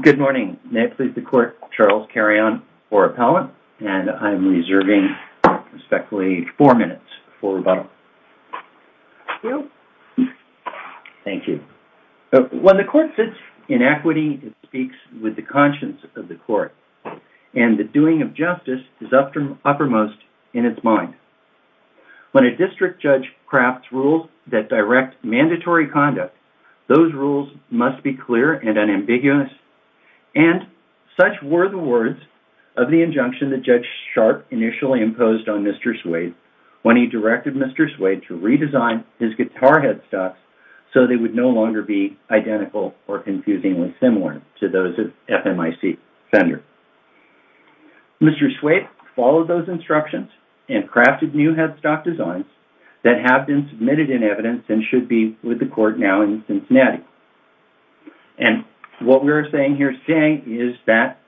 Good morning. May it please the court, Charles Carrion, or Appellant, and I'm reserving respectfully four minutes for rebuttal. Thank you. When the court sits in equity, it speaks with the conscience of the court, and the doing of justice is uppermost in its mind. When a district judge crafts rules that direct mandatory conduct, those rules must be clear and ambiguous, and such were the words of the injunction that Judge Sharp initially imposed on Mr. Swade when he directed Mr. Swade to redesign his guitar headstocks so they would no longer be identical or confusingly similar to those of FMIC Fender. Mr. Swade followed those instructions and crafted new headstock designs that have been submitted in evidence and should be with the court now in Cincinnati. And what we're saying here today is that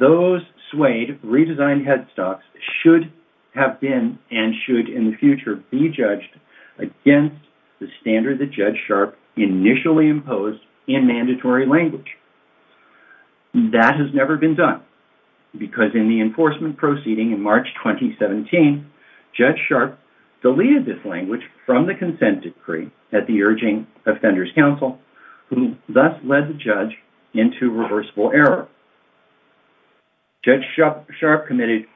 those Swade redesigned headstocks should have been and should in the future be judged against the standard that Judge Sharp initially imposed in mandatory language. That has never been done, because in the enforcement proceeding in March 2017, Judge Sharp deleted this language from the consent decree at the urging of Fender's counsel, who thus led the judge into reversible error. Judge Sharp committed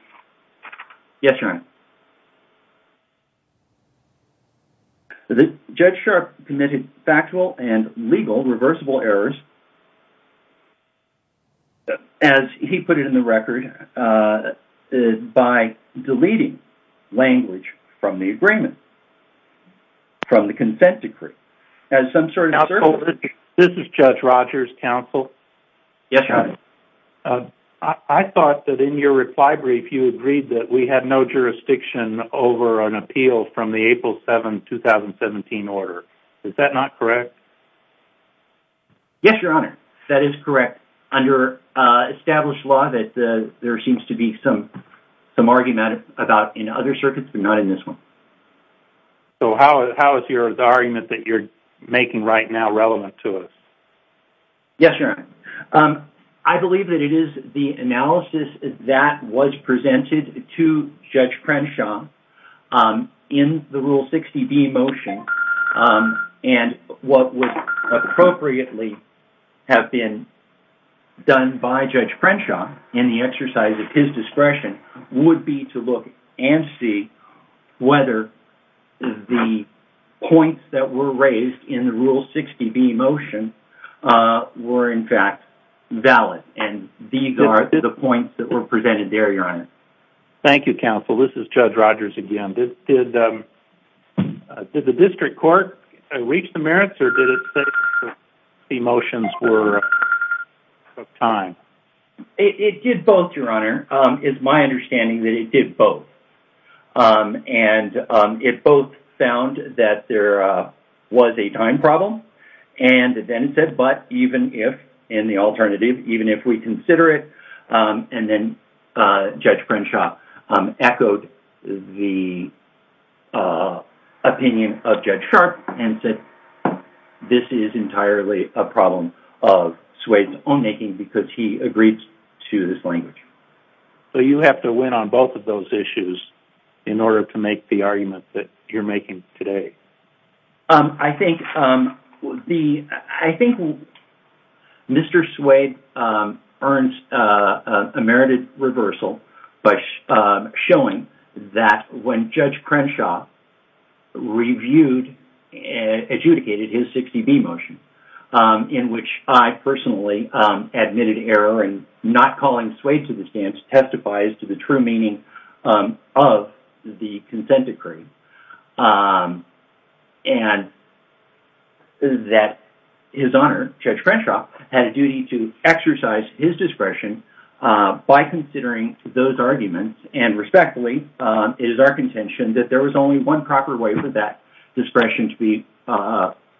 factual and legal reversible errors, as he put it in the record, by deleting language from the agreement. From the consent decree. As some sort of circle... Now, Colvin, this is Judge Rogers' counsel. Yes, Your Honor. I thought that in your reply brief, you agreed that we had no jurisdiction over an appeal from the April 7, 2017 order. Is that not correct? Yes, Your Honor, that is correct. Under established law, there seems to be some about in other circuits, but not in this one. So how is the argument that you're making right now relevant to us? Yes, Your Honor. I believe that it is the analysis that was presented to Judge Crenshaw in the Rule 60B motion, and what would appropriately have been done by Judge Crenshaw in the exercise of his discretion would be to look and see whether the points that were raised in the Rule 60B motion were in fact valid, and these are the points that were presented there, Your Honor. Thank you, counsel. This is Judge Rogers again. Did the district court reach the merits, or did it say the motions were out of time? It did both, Your Honor. It's my understanding that it did both, and it both found that there was a time problem, and then it said, but even if, in the alternative, even if we consider it, and then Judge Crenshaw echoed the opinion of Judge Sharp and said, this is entirely a problem of Swade's own making because he agreed to this language. So you have to win on both of those issues in order to make the argument that you're making today? I think Mr. Swade earns a merited reversal by showing that when Judge Crenshaw reviewed and adjudicated his 60B motion, in which I personally admitted error in not calling Swade to the stand, testifies to the true meaning of the consent decree, and that His Honor, Judge Crenshaw, had a duty to exercise his discretion by considering those one proper way for that discretion to be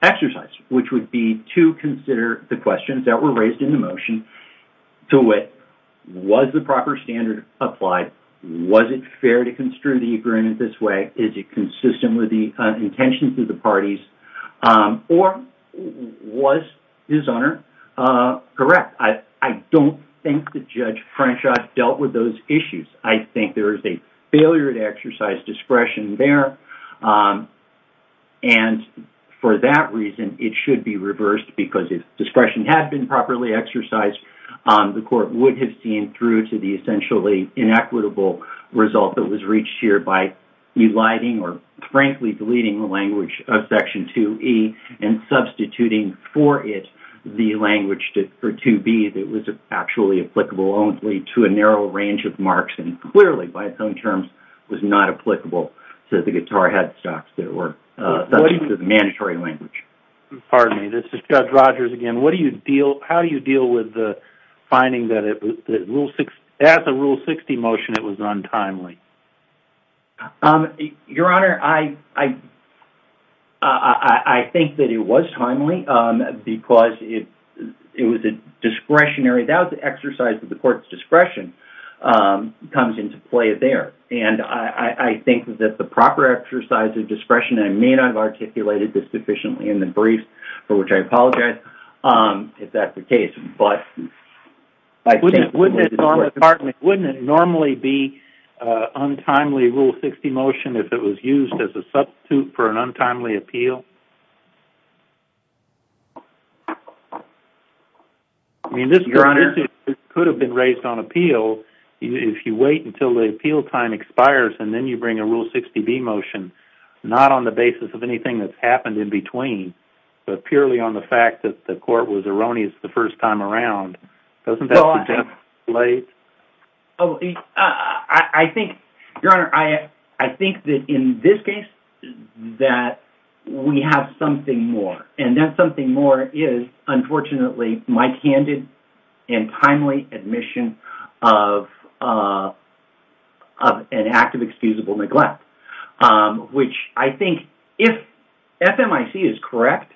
exercised, which would be to consider the questions that were raised in the motion to wit. Was the proper standard applied? Was it fair to construe the agreement this way? Is it consistent with the intentions of the parties? Or was His Honor correct? I don't think that Judge Crenshaw dealt with those issues. I think there is a discretion there. And for that reason, it should be reversed because if discretion had been properly exercised, the court would have seen through to the essentially inequitable result that was reached here by eliding or frankly deleting the language of Section 2E and substituting for it the language for 2B that was actually applicable only to a narrow range of marks, and clearly, by its own terms, was not applicable to the guitar headstocks that were subject to the mandatory language. Pardon me. This is Judge Rogers again. How do you deal with the finding that as a Rule 60 motion it was untimely? Your Honor, I think that it was timely because it was discretionary. That was an exercise of discretion. And I think that the proper exercise of discretion, I may not have articulated this sufficiently in the brief, for which I apologize if that's the case. Wouldn't it normally be untimely Rule 60 motion if it was used as a substitute for an untimely appeal? If you wait until the appeal time expires and then you bring a Rule 60B motion, not on the basis of anything that's happened in between, but purely on the fact that the court was erroneous the first time around, doesn't that contemplate? Your Honor, I think that in this case that we have something more. And that something more is, unfortunately, my candid and timely admission of an act of excusable neglect. Which I think, if FMIC is correct,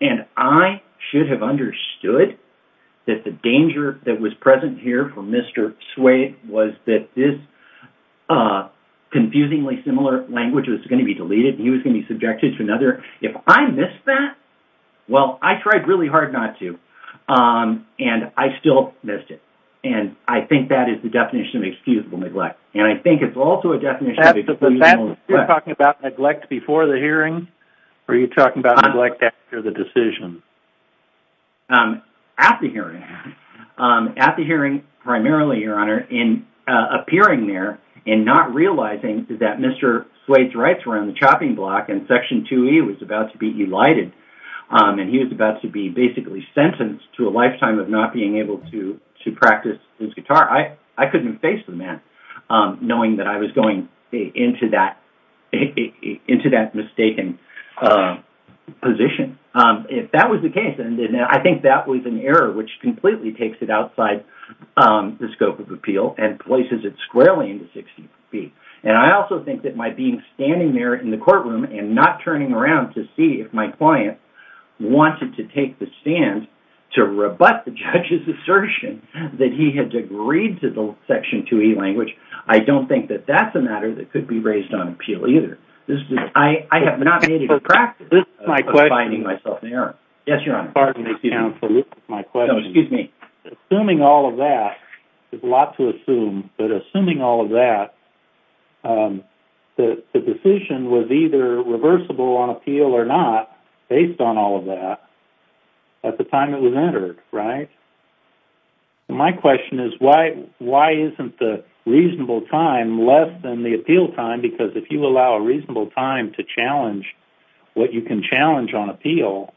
and I should have understood that the danger that was present here for Mr. Suede was that this confusingly similar language was going to be deleted and he was going to be hard not to. And I still missed it. And I think that is the definition of excusable neglect. And I think it's also a definition of excusable neglect. You're talking about neglect before the hearing? Or are you talking about neglect after the decision? At the hearing. At the hearing, primarily, Your Honor, in appearing there and not realizing that Mr. Suede's rights were on the chopping block and Section 2E was about to be elided, and he was about to be basically sentenced to a lifetime of not being able to practice his guitar, I couldn't face the man knowing that I was going into that mistaken position. If that was the case, then I think that was an error which completely takes it outside the scope of appeal and places it squarely into Section 2B. And I also think that my being standing there in the courtroom and not turning around to see if my client wanted to take the stand to rebut the judge's assertion that he had agreed to the Section 2E language, I don't think that that's a matter that could be raised on appeal either. I have not made it a practice of finding myself in error. Yes, Your Honor. Pardon me, counsel. This is my question. No, excuse me. Assuming all of that, there's a lot to assume, but assuming all of that, the decision was either reversible on appeal or not based on all of that at the time it was entered, right? My question is, why isn't the reasonable time less than the appeal time? Because if you allow a reasonable time to challenge what you can challenge on appeal,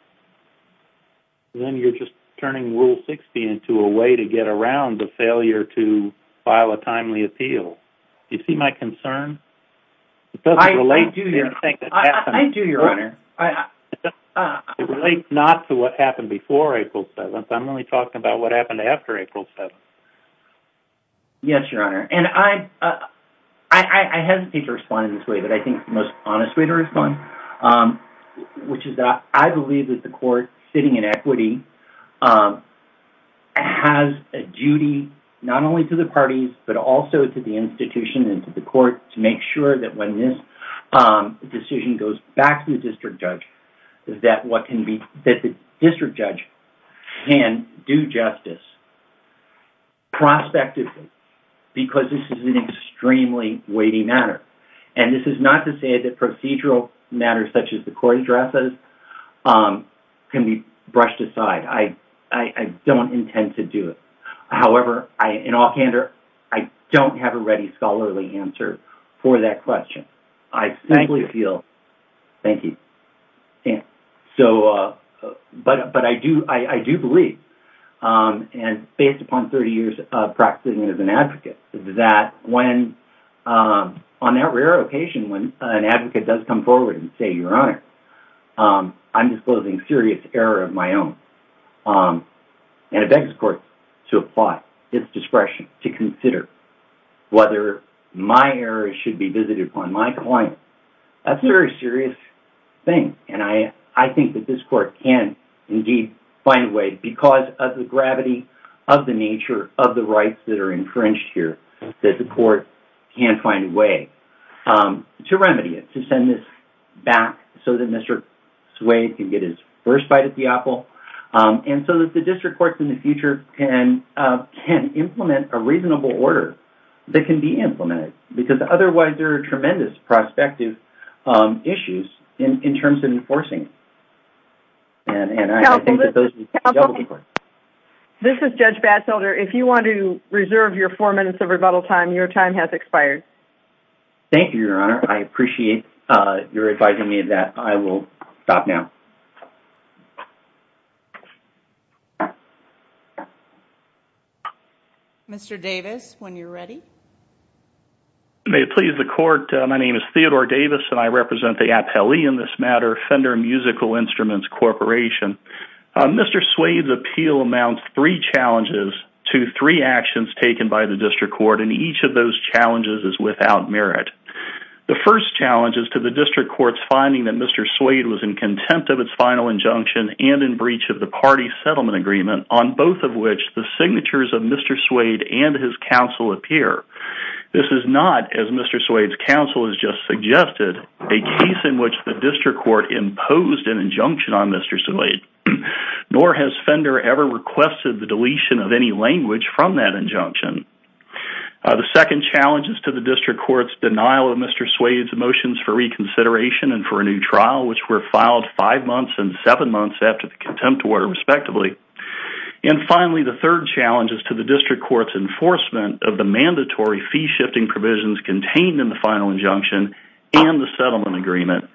then you're just turning Rule 60 into a way to get around the failure to file a timely appeal. Do you see my concern? It doesn't relate to anything that happened before April 7th. I'm only talking about what happened after April 7th. Yes, Your Honor. And I hesitate to respond in this way, but I think the honest way to respond, which is that I believe that the court sitting in equity has a duty not only to the parties, but also to the institution and to the court to make sure that when this decision goes back to the district judge, that the district judge can do justice prospectively, because this is an extremely weighty matter. And this is not to say that procedural matters such as the court addresses can be brushed aside. I don't intend to do it. However, in all candor, I don't have a ready scholarly answer for that question. I simply feel... Thank you. Based upon 30 years of practicing as an advocate, that when on that rare occasion, when an advocate does come forward and say, Your Honor, I'm disclosing serious error of my own. And it begs the court to apply its discretion to consider whether my error should be visited upon my client. That's a very serious thing. And I think that this court can indeed find a way, because of the gravity of the nature of the rights that are infringed here, that the court can find a way to remedy it, to send this back so that Mr. Suede can get his first bite at the apple. And so that the district courts in the future can implement a reasonable order that can be implemented, because otherwise there are tremendous prospective issues in terms of enforcing it. And I think that those... Counsel, this is Judge Batzelder. If you want to reserve your four minutes of rebuttal time, your time has expired. Thank you, Your Honor. I appreciate your advising me of that. I will stop now. Mr. Davis, when you're ready. May it please the court. My name is Theodore Davis, and I represent the appellee in this matter, Fender Musical Instruments Corporation. Mr. Suede's appeal amounts three challenges to three actions taken by the district court, and each of those challenges is without merit. The first challenge is to the district court's finding that Mr. Suede was in contempt of its final injunction and in breach of the party settlement agreement, on both of which the is not, as Mr. Suede's counsel has just suggested, a case in which the district court imposed an injunction on Mr. Suede, nor has Fender ever requested the deletion of any language from that injunction. The second challenge is to the district court's denial of Mr. Suede's motions for reconsideration and for a new trial, which were filed five months and seven months after the contempt order, respectively. And finally, the third challenge is to the district court's mandatory fee-shifting provisions contained in the final injunction and the settlement agreement,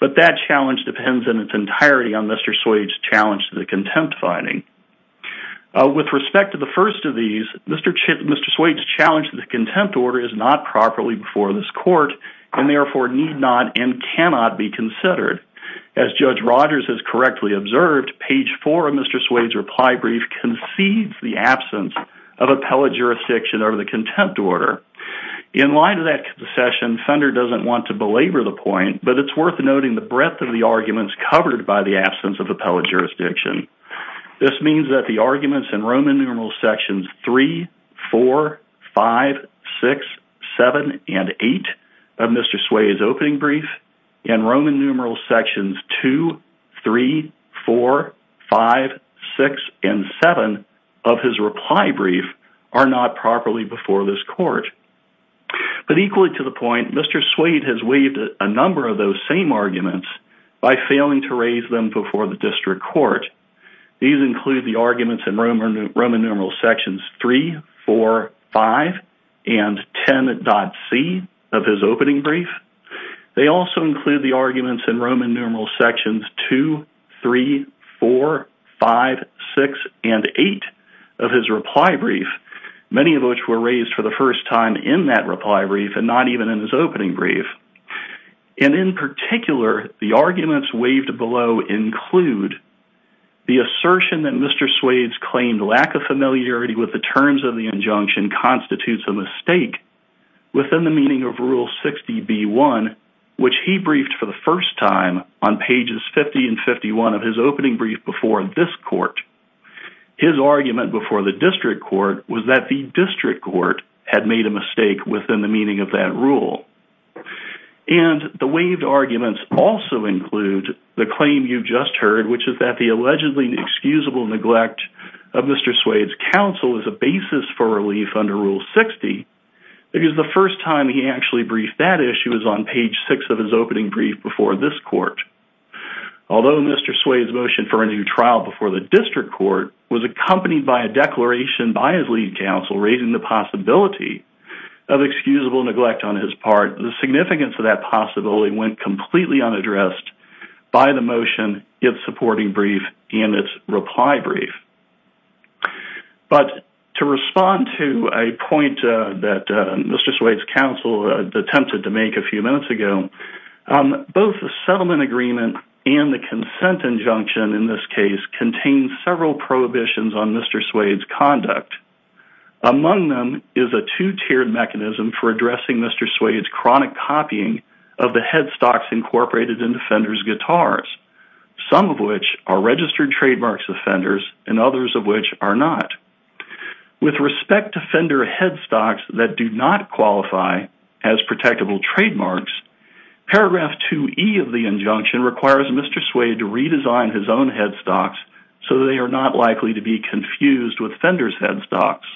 but that challenge depends in its entirety on Mr. Suede's challenge to the contempt finding. With respect to the first of these, Mr. Suede's challenge to the contempt order is not properly before this court, and therefore need not and cannot be considered. As Judge Rogers has correctly observed, page four of Mr. Suede's reply brief concedes the absence of appellate jurisdiction over the contempt order. In light of that concession, Fender doesn't want to belabor the point, but it's worth noting the breadth of the arguments covered by the absence of appellate jurisdiction. This means that the arguments in Roman numeral sections three, four, five, six, seven, and eight of Mr. Suede's opening brief and Roman numeral sections two, three, four, five, six, and seven of his reply brief are not properly before this court. But equally to the point, Mr. Suede has waived a number of those same arguments by failing to raise them before the district court. These include the arguments in Roman numeral sections three, four, five, and 10.C of his opening brief. They also include the arguments in Roman numeral sections two, three, four, five, six, and eight of his reply brief, many of which were raised for the first time in that reply brief and not even in his opening brief. And in particular, the arguments waived below include the assertion that Mr. Suede's claimed lack of familiarity with the terms of the injunction constitutes a mistake within the meaning of rule 60B1, which he briefed for the first time on pages 50 and 51 of his opening brief before this court. His argument before the district court was that the district court had made a mistake within the meaning of that rule. And the waived arguments also include the claim you've just heard, which is that the allegedly excusable neglect of Mr. Suede's counsel is a basis for relief under rule 60 because the first time he actually briefed that issue is on page six of his opening brief before this court. Although Mr. Suede's motion for a new trial before the district court was accompanied by a declaration by his lead counsel raising the possibility of excusable neglect on his part, the significance of that possibility went completely unaddressed by the motion, its supporting brief, and its reply brief. But to respond to a point that Mr. Suede's counsel attempted to make a few minutes ago, both the settlement agreement and the consent injunction in this case contain several prohibitions on Mr. Suede's conduct. Among them is a two-tiered mechanism for addressing Mr. Suede's chronic copying of the headstocks incorporated in Fender's guitars, some of which are registered trademarks of Fender's and others of which are not. With respect to Fender headstocks that do not qualify as protectable trademarks, paragraph 2E of the injunction requires Mr. Suede to redesign his own headstocks so they are not likely to be confused with Fender's headstocks.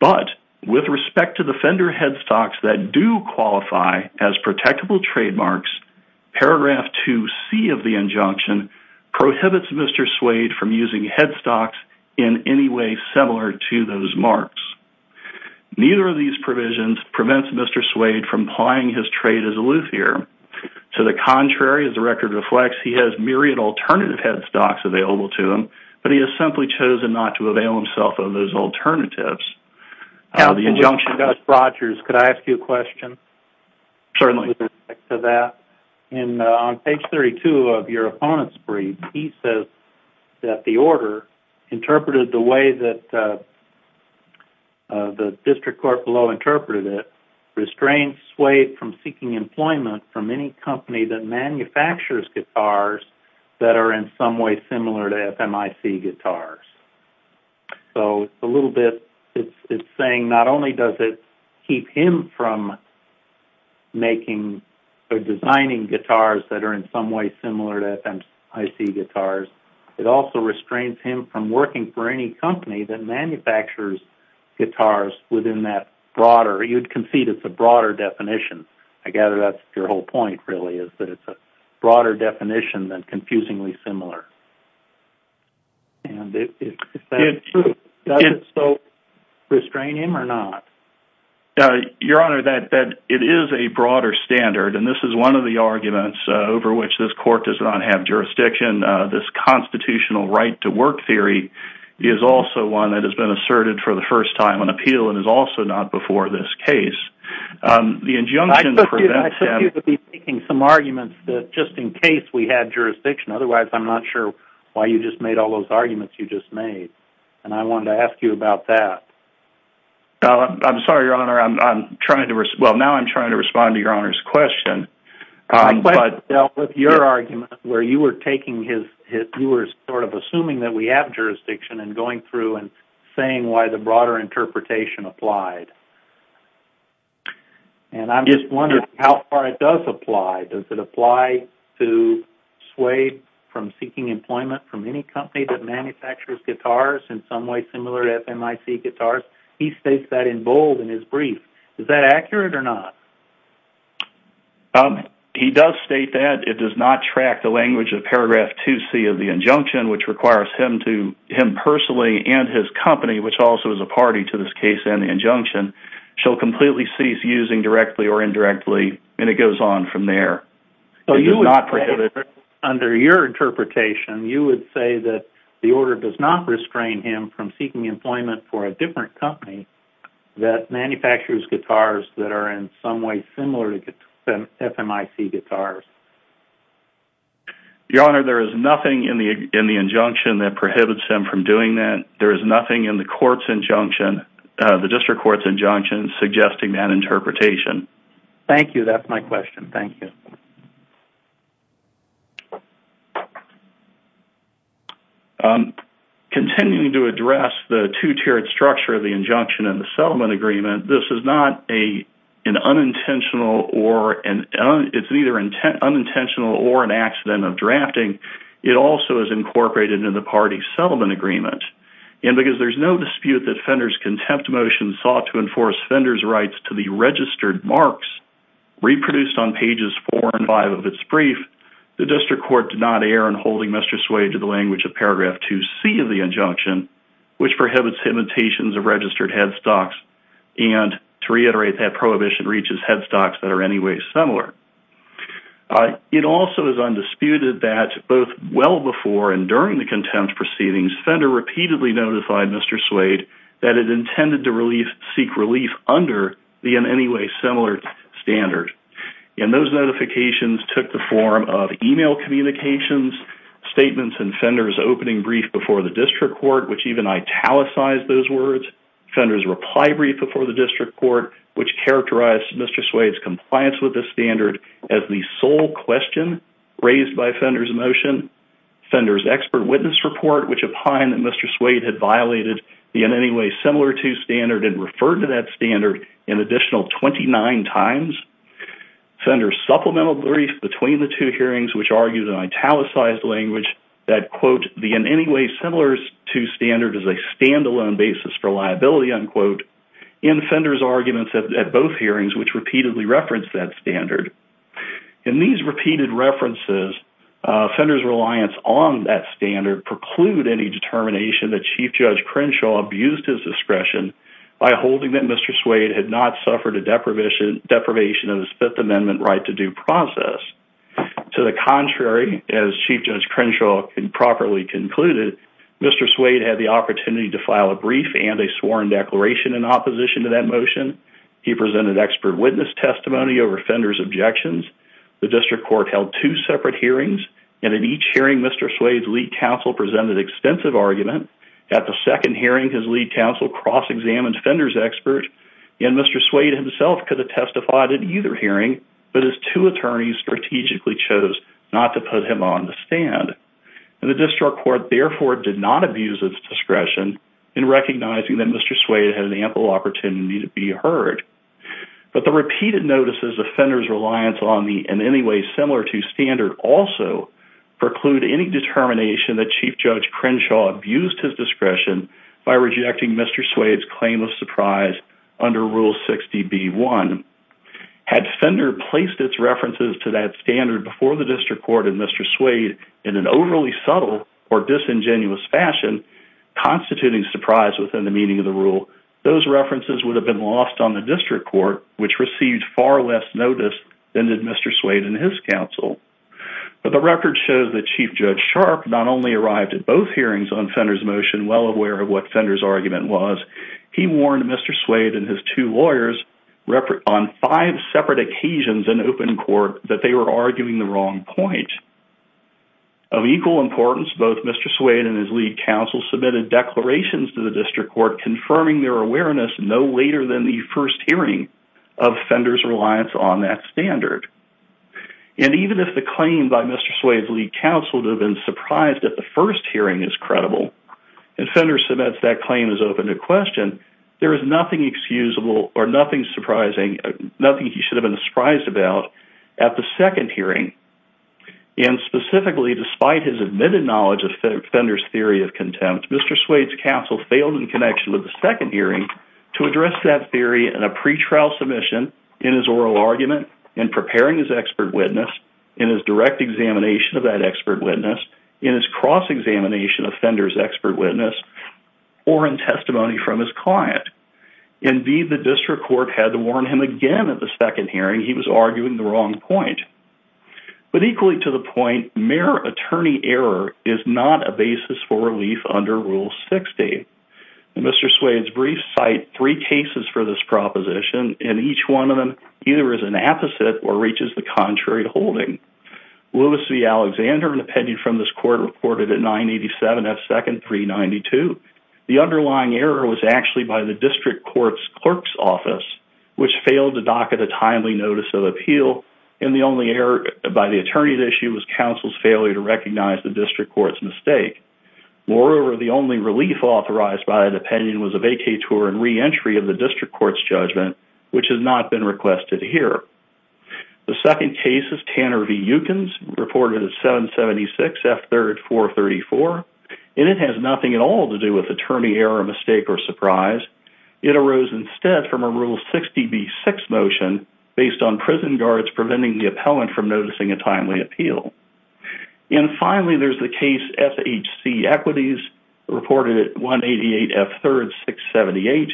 But with respect to the Fender headstocks that do qualify as protectable trademarks, paragraph 2C of the injunction prohibits Mr. Suede from using headstocks in any way similar to those marks. Neither of these provisions prevents Mr. Suede from plying his trade as a luthier. To the contrary, as the record reflects, he has myriad alternative headstocks available to him, but he has simply chosen not to avail himself of those alternatives. The injunction... On page 32 of your opponent's brief, he says that the order interpreted the way that the district court below interpreted it, restraints Suede from seeking employment from any company that manufactures guitars that are in some way similar to FMIC guitars. So it's a little bit... It's saying not only does it keep him from making or designing guitars that are in some way similar to FMIC guitars, it also restrains him from working for any company that manufactures guitars within that broader... You'd concede it's a broader definition. I gather that's your whole point, really, is that it's a broader definition than confusingly similar. And if that's true, does it still restrain him or not? Your Honor, it is a broader standard, and this is one of the arguments over which this court does not have jurisdiction. This constitutional right to work theory is also one that has been asserted for the first time on appeal and is also not before this case. The injunction prevents him... I took you to be making some arguments that just in case we had jurisdiction. Otherwise, I'm not sure why you just made all those arguments you just made, and I wanted to ask you about that. I'm sorry, Your Honor. I'm trying to... Well, now I'm trying to respond to Your Honor's question. My question dealt with your argument where you were taking his... You were sort of assuming that we have jurisdiction and going through and saying why the broader interpretation applied. And I'm just wondering how far it does apply. Does it apply to sway from seeking employment from any company that manufactures guitars in some way similar to FMIC guitars? He states that in bold in his brief. Is that accurate or not? He does state that. It does not track the language of paragraph 2C of the injunction, which requires him personally and his company, which also is a party to this case and the injunction, shall completely cease using directly or indirectly, and it goes on from there. It does not prohibit... Under your interpretation, you would say that the order does not restrain him from seeking employment for a different company that manufactures guitars that are in some way similar to FMIC guitars. Your Honor, there is nothing in the injunction that prohibits him from doing that. There is nothing in the court's injunction, the district court's injunction, suggesting that interpretation. Thank you. That's my question. Thank you. Continuing to address the two-tiered structure of the injunction in the settlement agreement, this is not an unintentional or an... It's neither unintentional or an accident of drafting. It also is incorporated in the party's settlement agreement, and because there's no dispute that Fender's contempt motion sought to enforce Fender's rights to the registered marks reproduced on pages four and five of its brief, the district court did not err in holding Mr. Sway to the language of paragraph 2C of the injunction, which prohibits imitations of registered headstocks, and to reiterate, that prohibition reaches headstocks that are anyway similar. It also is undisputed that both well before and during the contempt proceedings, Fender repeatedly notified Mr. Sway that it intended to seek relief under the in any way similar standard, and those notifications took the form of email communications, statements in Fender's opening brief before the district court, which even italicized those words, Fender's reply brief before the district court, which characterized Mr. Sway's compliance with the standard as the sole question raised by Fender's motion, Fender's expert witness report, which opined that Mr. Sway had violated the in any way similar to standard and referred to that standard an additional 29 times, Fender's supplemental brief between the two hearings, which argues in italicized language that, quote, the in any way similar to standard is a standalone basis for liability, unquote, in Fender's arguments at both hearings, which repeatedly referenced that standard. In these repeated references, Fender's reliance on that standard preclude any determination that Chief Judge Crenshaw abused his discretion by holding that Mr. Sway had not suffered a deprivation of his Fifth Amendment right to due process. To the contrary, as Chief Judge Crenshaw properly concluded, Mr. Sway had the opportunity to file a brief and a sworn declaration in opposition to that motion. He presented expert witness testimony over Fender's objections. The district court held two separate hearings, and in each hearing, Mr. Sway's lead counsel presented extensive argument. At the second hearing, his lead counsel cross-examined Fender's And Mr. Sway himself could have testified at either hearing, but his two attorneys strategically chose not to put him on the stand. And the district court therefore did not abuse its discretion in recognizing that Mr. Sway had an ample opportunity to be heard. But the repeated notices of Fender's reliance on the in any way similar to standard also preclude any determination that Chief Judge Crenshaw abused his discretion by rejecting Mr. Sway's claim of surprise under Rule 60B1. Had Fender placed its references to that standard before the district court and Mr. Sway in an overly subtle or disingenuous fashion, constituting surprise within the meaning of the rule, those references would have been lost on the district court, which received far less notice than did Mr. Sway and his counsel. But the record shows that Chief Judge Sharp not only arrived at both hearings on Fender's motion well aware of what Fender's argument was, he warned Mr. Sway and his two lawyers on five separate occasions in open court that they were arguing the wrong point. Of equal importance, both Mr. Sway and his lead counsel submitted declarations to the district court confirming their awareness no later than the first hearing of Fender's reliance on that standard. And even if the claim by Mr. Sway's lead counsel to have been surprised at the first hearing is credible and Fender submits that claim as open to question, there is nothing excusable or nothing surprising, nothing he should have been surprised about at the second hearing. And specifically, despite his admitted knowledge of Fender's theory of contempt, Mr. Sway's counsel failed in connection with the second hearing to address that theory in a pretrial submission, in his oral argument, in preparing his expert witness, in his direct examination of that expert witness, in his cross-examination of Fender's expert witness, or in testimony from his client. Indeed, the district court had to warn him again at the second hearing he was arguing the wrong point. But equally to the point, mere attorney error is not a basis for relief under Rule 60. Mr. Sway's brief cite three cases for this proposition and each one of them either is an apposite or reaches the contrary holding. Lewis v. Alexander, an opinion from this court, reported at 987 F. Second 392. The underlying error was actually by the district court's clerk's office, which failed to docket a timely notice of appeal and the only error by the attorney at issue was counsel's failure to recognize the district court's mistake. Moreover, the only relief authorized by that opinion was a vacay tour and reentry of the district court's judgment, which has not been requested here. The second case is Tanner v. Yukins, reported at 776 F. Third 434, and it has nothing at all to do with attorney error, mistake, or surprise. It arose instead from a Rule 60 B. Six motion based on prison guards preventing the appellant from noticing a timely appeal. And finally, there's the case F. H. C. Equities, reported at 188 F. Third 678,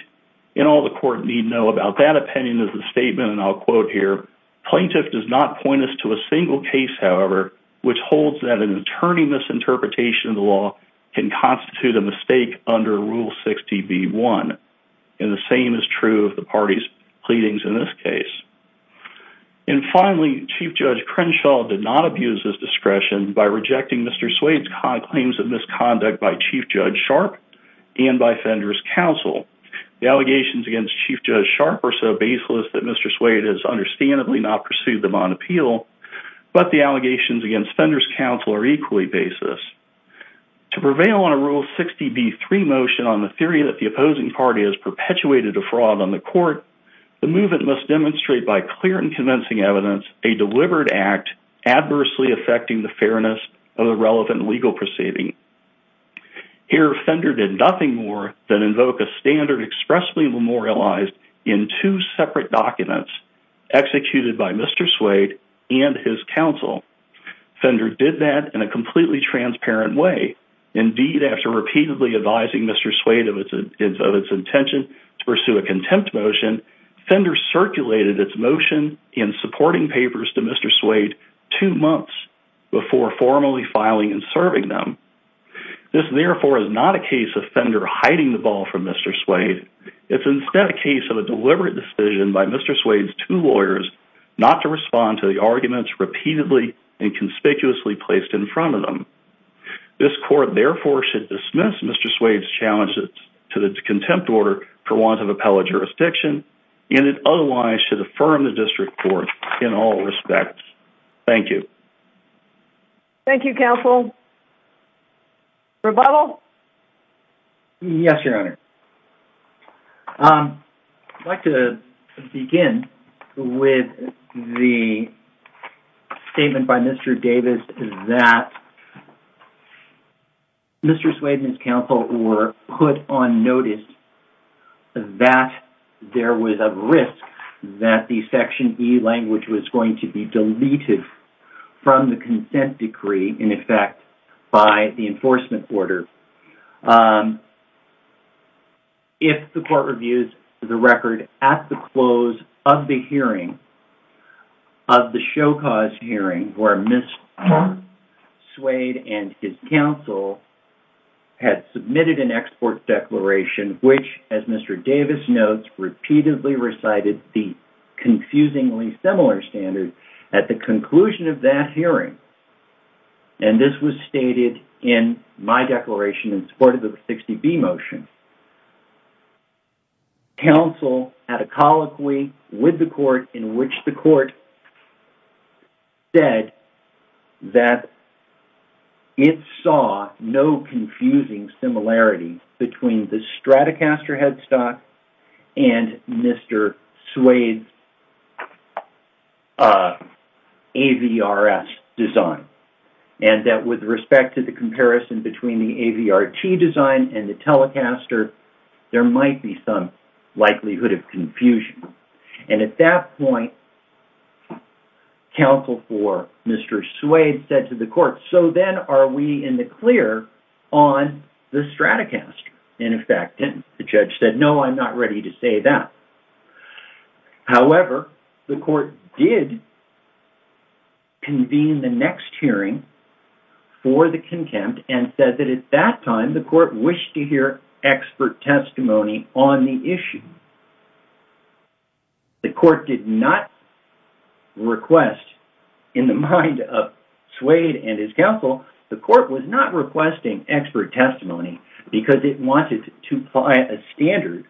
and all the court need know about that opinion is the statement, and I'll quote here, plaintiff does not point us to a single case, however, which holds that an attorney misinterpretation of the law can constitute a mistake under Rule 60 B. One, and the same is true of the party's pleadings in this case. And finally, Chief Judge Crenshaw did not abuse his discretion by rejecting Mr. Swade's claims of misconduct by Chief Judge Sharp and by Fender's counsel. The allegations against Chief Judge Sharp are so baseless that Mr. Swade has understandably not pursued them on appeal, but the allegations against Fender's counsel are equally baseless. To prevail on a Rule 60 B. Three motion on the theory that the opposing party has perpetuated a fraud on the court, the movement must demonstrate by clear and convincing evidence a deliberate act adversely affecting the fairness of the relevant legal proceeding. Here, Fender did nothing more than invoke a standard expressly memorialized in two separate documents executed by Mr. Swade and his counsel. Fender did that in a completely transparent way. Indeed, after repeatedly advising Mr. Swade of its intention to pursue a contempt motion, Fender circulated its motion in supporting papers to Mr. Swade two months before formally filing and serving them. This therefore is not a case of Fender hiding the ball from Mr. Swade. It's instead a case of a deliberate decision by Mr. Swade's two lawyers not to respond to the arguments repeatedly and conspicuously placed in front of them. This court therefore should dismiss Mr. Swade's challenges to the contempt order for want of appellate jurisdiction, and it otherwise should be dismissed. Rebuttal? Yes, Your Honor. I'd like to begin with the statement by Mr. Davis that Mr. Swade and his counsel were put on notice that there was a risk that the Section E language was to be deleted from the consent decree, in effect, by the enforcement order. If the court reviews the record at the close of the hearing, of the show-caused hearing where Mr. Swade and his counsel had submitted an export declaration which, as Mr. Davis notes, repeatedly recited the confusingly similar standard at the conclusion of that hearing, and this was stated in my declaration in support of the 60B motion, counsel had a colloquy with the court in which the court said that it saw no confusing similarity between the Stratocaster headstock and Mr. Swade's AVRS design, and that with respect to the comparison between the AVRT design and the Telecaster, there might be some likelihood of confusion, and at that point, counsel for Mr. Swade said to the court, so then are we in the clear on the Stratocaster? And in fact, the judge said, no, I'm not ready to say that. However, the court did convene the next hearing for the contempt and said that at that time the court wished to hear expert testimony on the issue. The court did not request, in the mind of Swade and his counsel, the court was not requesting expert testimony because it wanted to apply a standard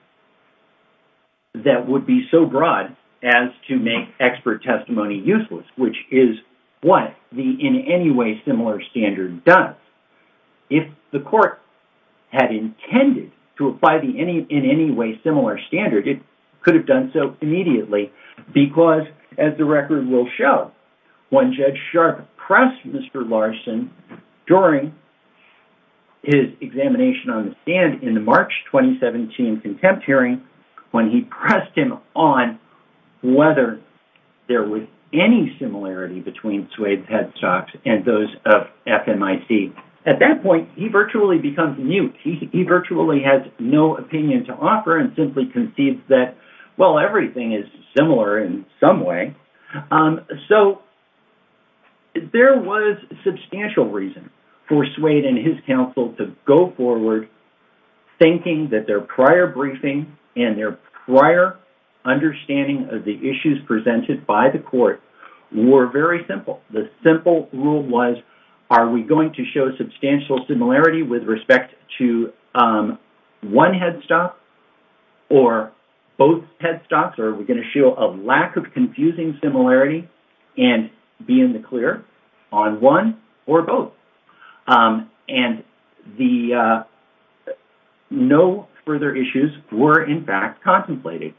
that would be so broad as to make expert testimony useless, which is what the in any way similar standard does. If the court had intended to apply the in any way similar standard, it could have done so immediately because, as the record will show, when Judge Sharp pressed Mr. Larson during his examination on the stand in the March 2017 contempt hearing, when he pressed him on whether there was any similarity between Swade's headstocks and those of FMIC, at that point, he virtually becomes mute. He virtually has no opinion to offer and simply concedes that, well, everything is similar in some way. So there was substantial reason for Swade and his counsel to go forward thinking that their prior briefing and their prior understanding of the issues presented by the court were very simple. The simple rule was, are we going to show both headstocks or are we going to show a lack of confusing similarity and be in the clear on one or both? And no further issues were, in fact, contemplated.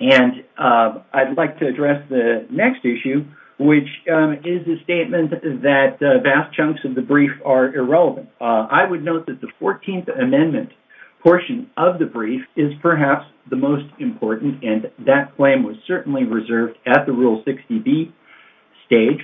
And I'd like to address the next issue, which is the statement that vast chunks of the brief are irrelevant. I would note that the 14th Amendment portion of the brief is perhaps the most important, and that claim was certainly reserved at the Rule 60B stage.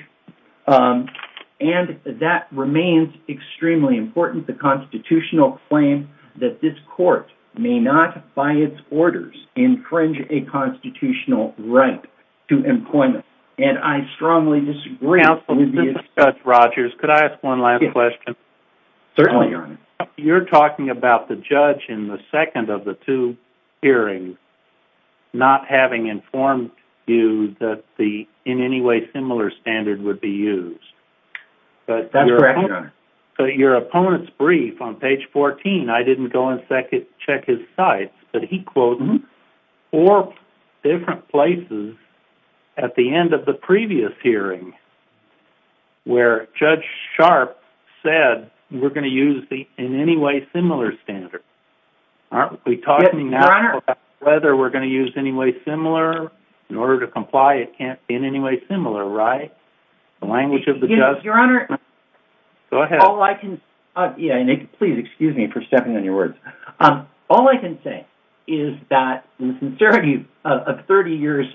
And that remains extremely important, the constitutional claim that this court may not, by its orders, infringe a constitutional right to employment. And I strongly disagree. Counsel, this is Scott Rogers. Could I ask one last question? Certainly, Your Honor. You're talking about the judge in the second of the two hearings not having informed you that the, in any way, similar standard would be used. That's correct, Your Honor. But your opponent's brief on page 14, I didn't go and check his sites, but he quoted four different places at the end of the previous hearing where Judge Sharpe said, we're going to use the, in any way, similar standard. Aren't we talking now about whether we're going to use any way similar? In order to comply, it can't be in any way similar, right? The language of the judge... Your Honor... Go ahead. All I can... Please excuse me for stepping on your words. All I can say is that, in the 30 years,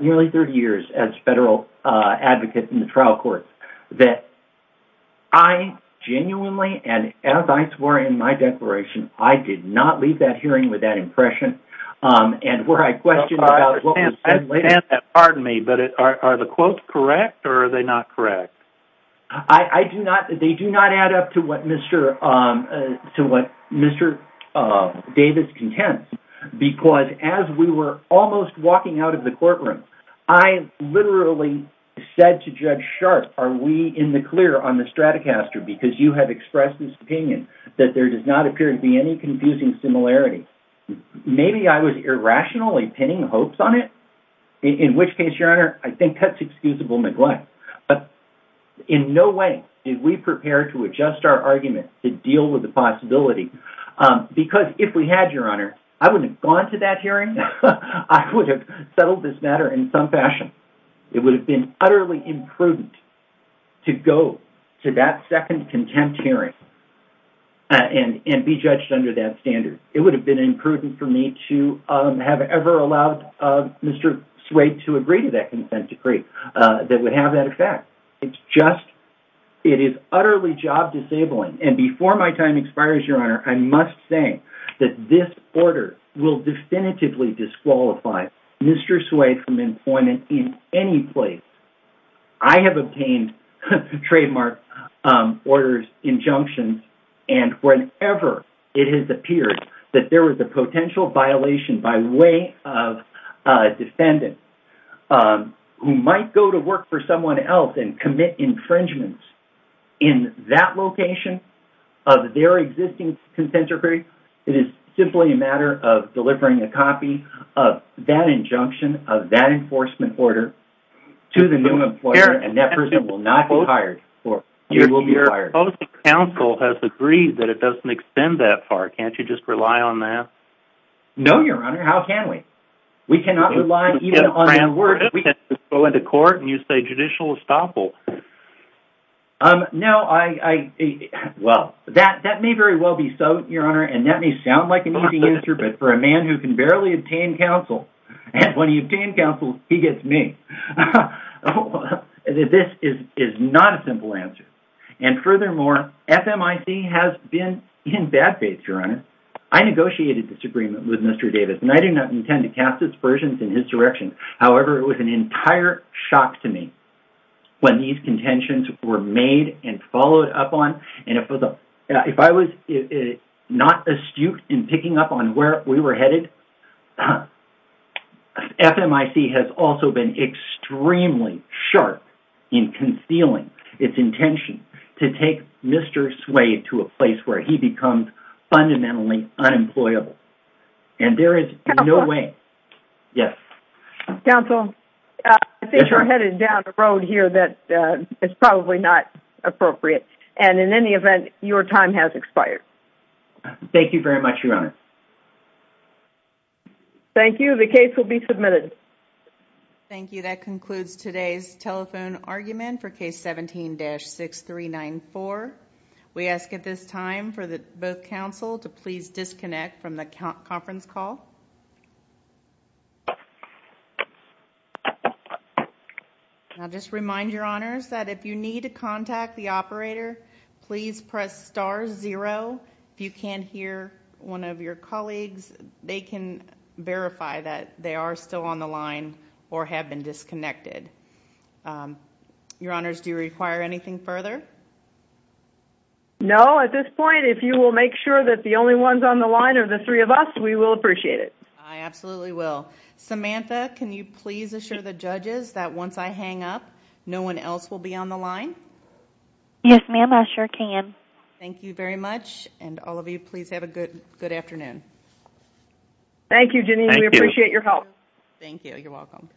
nearly 30 years as federal advocate in the trial court, that I genuinely, and as I swore in my declaration, I did not leave that hearing with that impression. And where I questioned... I understand that. Pardon me, but are the quotes correct or are they not correct? I do not... They do not add up to what Mr. Davis contends. Because as we were walking out of the courtroom, I literally said to Judge Sharpe, are we in the clear on the Stratocaster because you have expressed this opinion that there does not appear to be any confusing similarity? Maybe I was irrationally pinning hopes on it. In which case, Your Honor, I think that's excusable neglect. But in no way did we prepare to adjust our argument to deal with the possibility. Because if we had, Your Honor, I wouldn't have gone to that hearing. I would have settled this matter in some fashion. It would have been utterly imprudent to go to that second contempt hearing and be judged under that standard. It would have been imprudent for me to have ever allowed Mr. Swade to agree to that consent decree that would have that effect. It's just... It is utterly job disabling. And before my time expires, Your Honor, I must say that this order will definitively disqualify Mr. Swade from employment in any place. I have obtained trademark orders, injunctions, and whenever it has appeared that there was a potential violation by way of a defendant who might go to work for someone else and commit infringements in that location of their existing consent decree, it is simply a matter of delivering a copy of that injunction of that enforcement order to the new employer, and that person will not be hired. He will be fired. Your opposing counsel has agreed that it doesn't extend that far. Can't you just rely on that? No, Your Honor. How can we? We cannot rely even on that word. We can't just go into court and you say judicial estoppel. No, I... Well, that may very well be so, Your Honor, and that may sound like an easy answer, but for a man who can barely obtain counsel, and when he obtained counsel, he gets me. This is not a simple answer. And furthermore, FMIC has been in bad faith, Your Honor. I negotiated disagreement with Mr. Davis, and I do not intend to cast aspersions in his direction. However, it was an entire shock to me when these contentions were made and followed up on, and if I was not astute in picking up on where we were headed, FMIC has also been extremely sharp in concealing its intention to take Mr. Swade to a place where he becomes fundamentally unemployable, and there is no way... Yes. Counsel, I think you're headed down a road here that is probably not appropriate, and in any event, your time has expired. Thank you very much, Your Honor. Thank you. The case will be submitted. Thank you. That is all for both counsel to please disconnect from the conference call. I'll just remind Your Honors that if you need to contact the operator, please press star zero. If you can't hear one of your colleagues, they can verify that they are still on the line or have been disconnected. Your Honors, do you require anything further? No. At this point, if you will make sure that the only ones on the line are the three of us, we will appreciate it. I absolutely will. Samantha, can you please assure the judges that once I hang up, no one else will be on the line? Yes, ma'am. I sure can. Thank you very much, and all of you please have a good afternoon. Thank you, Janine. We appreciate your help. Thank you. You're welcome.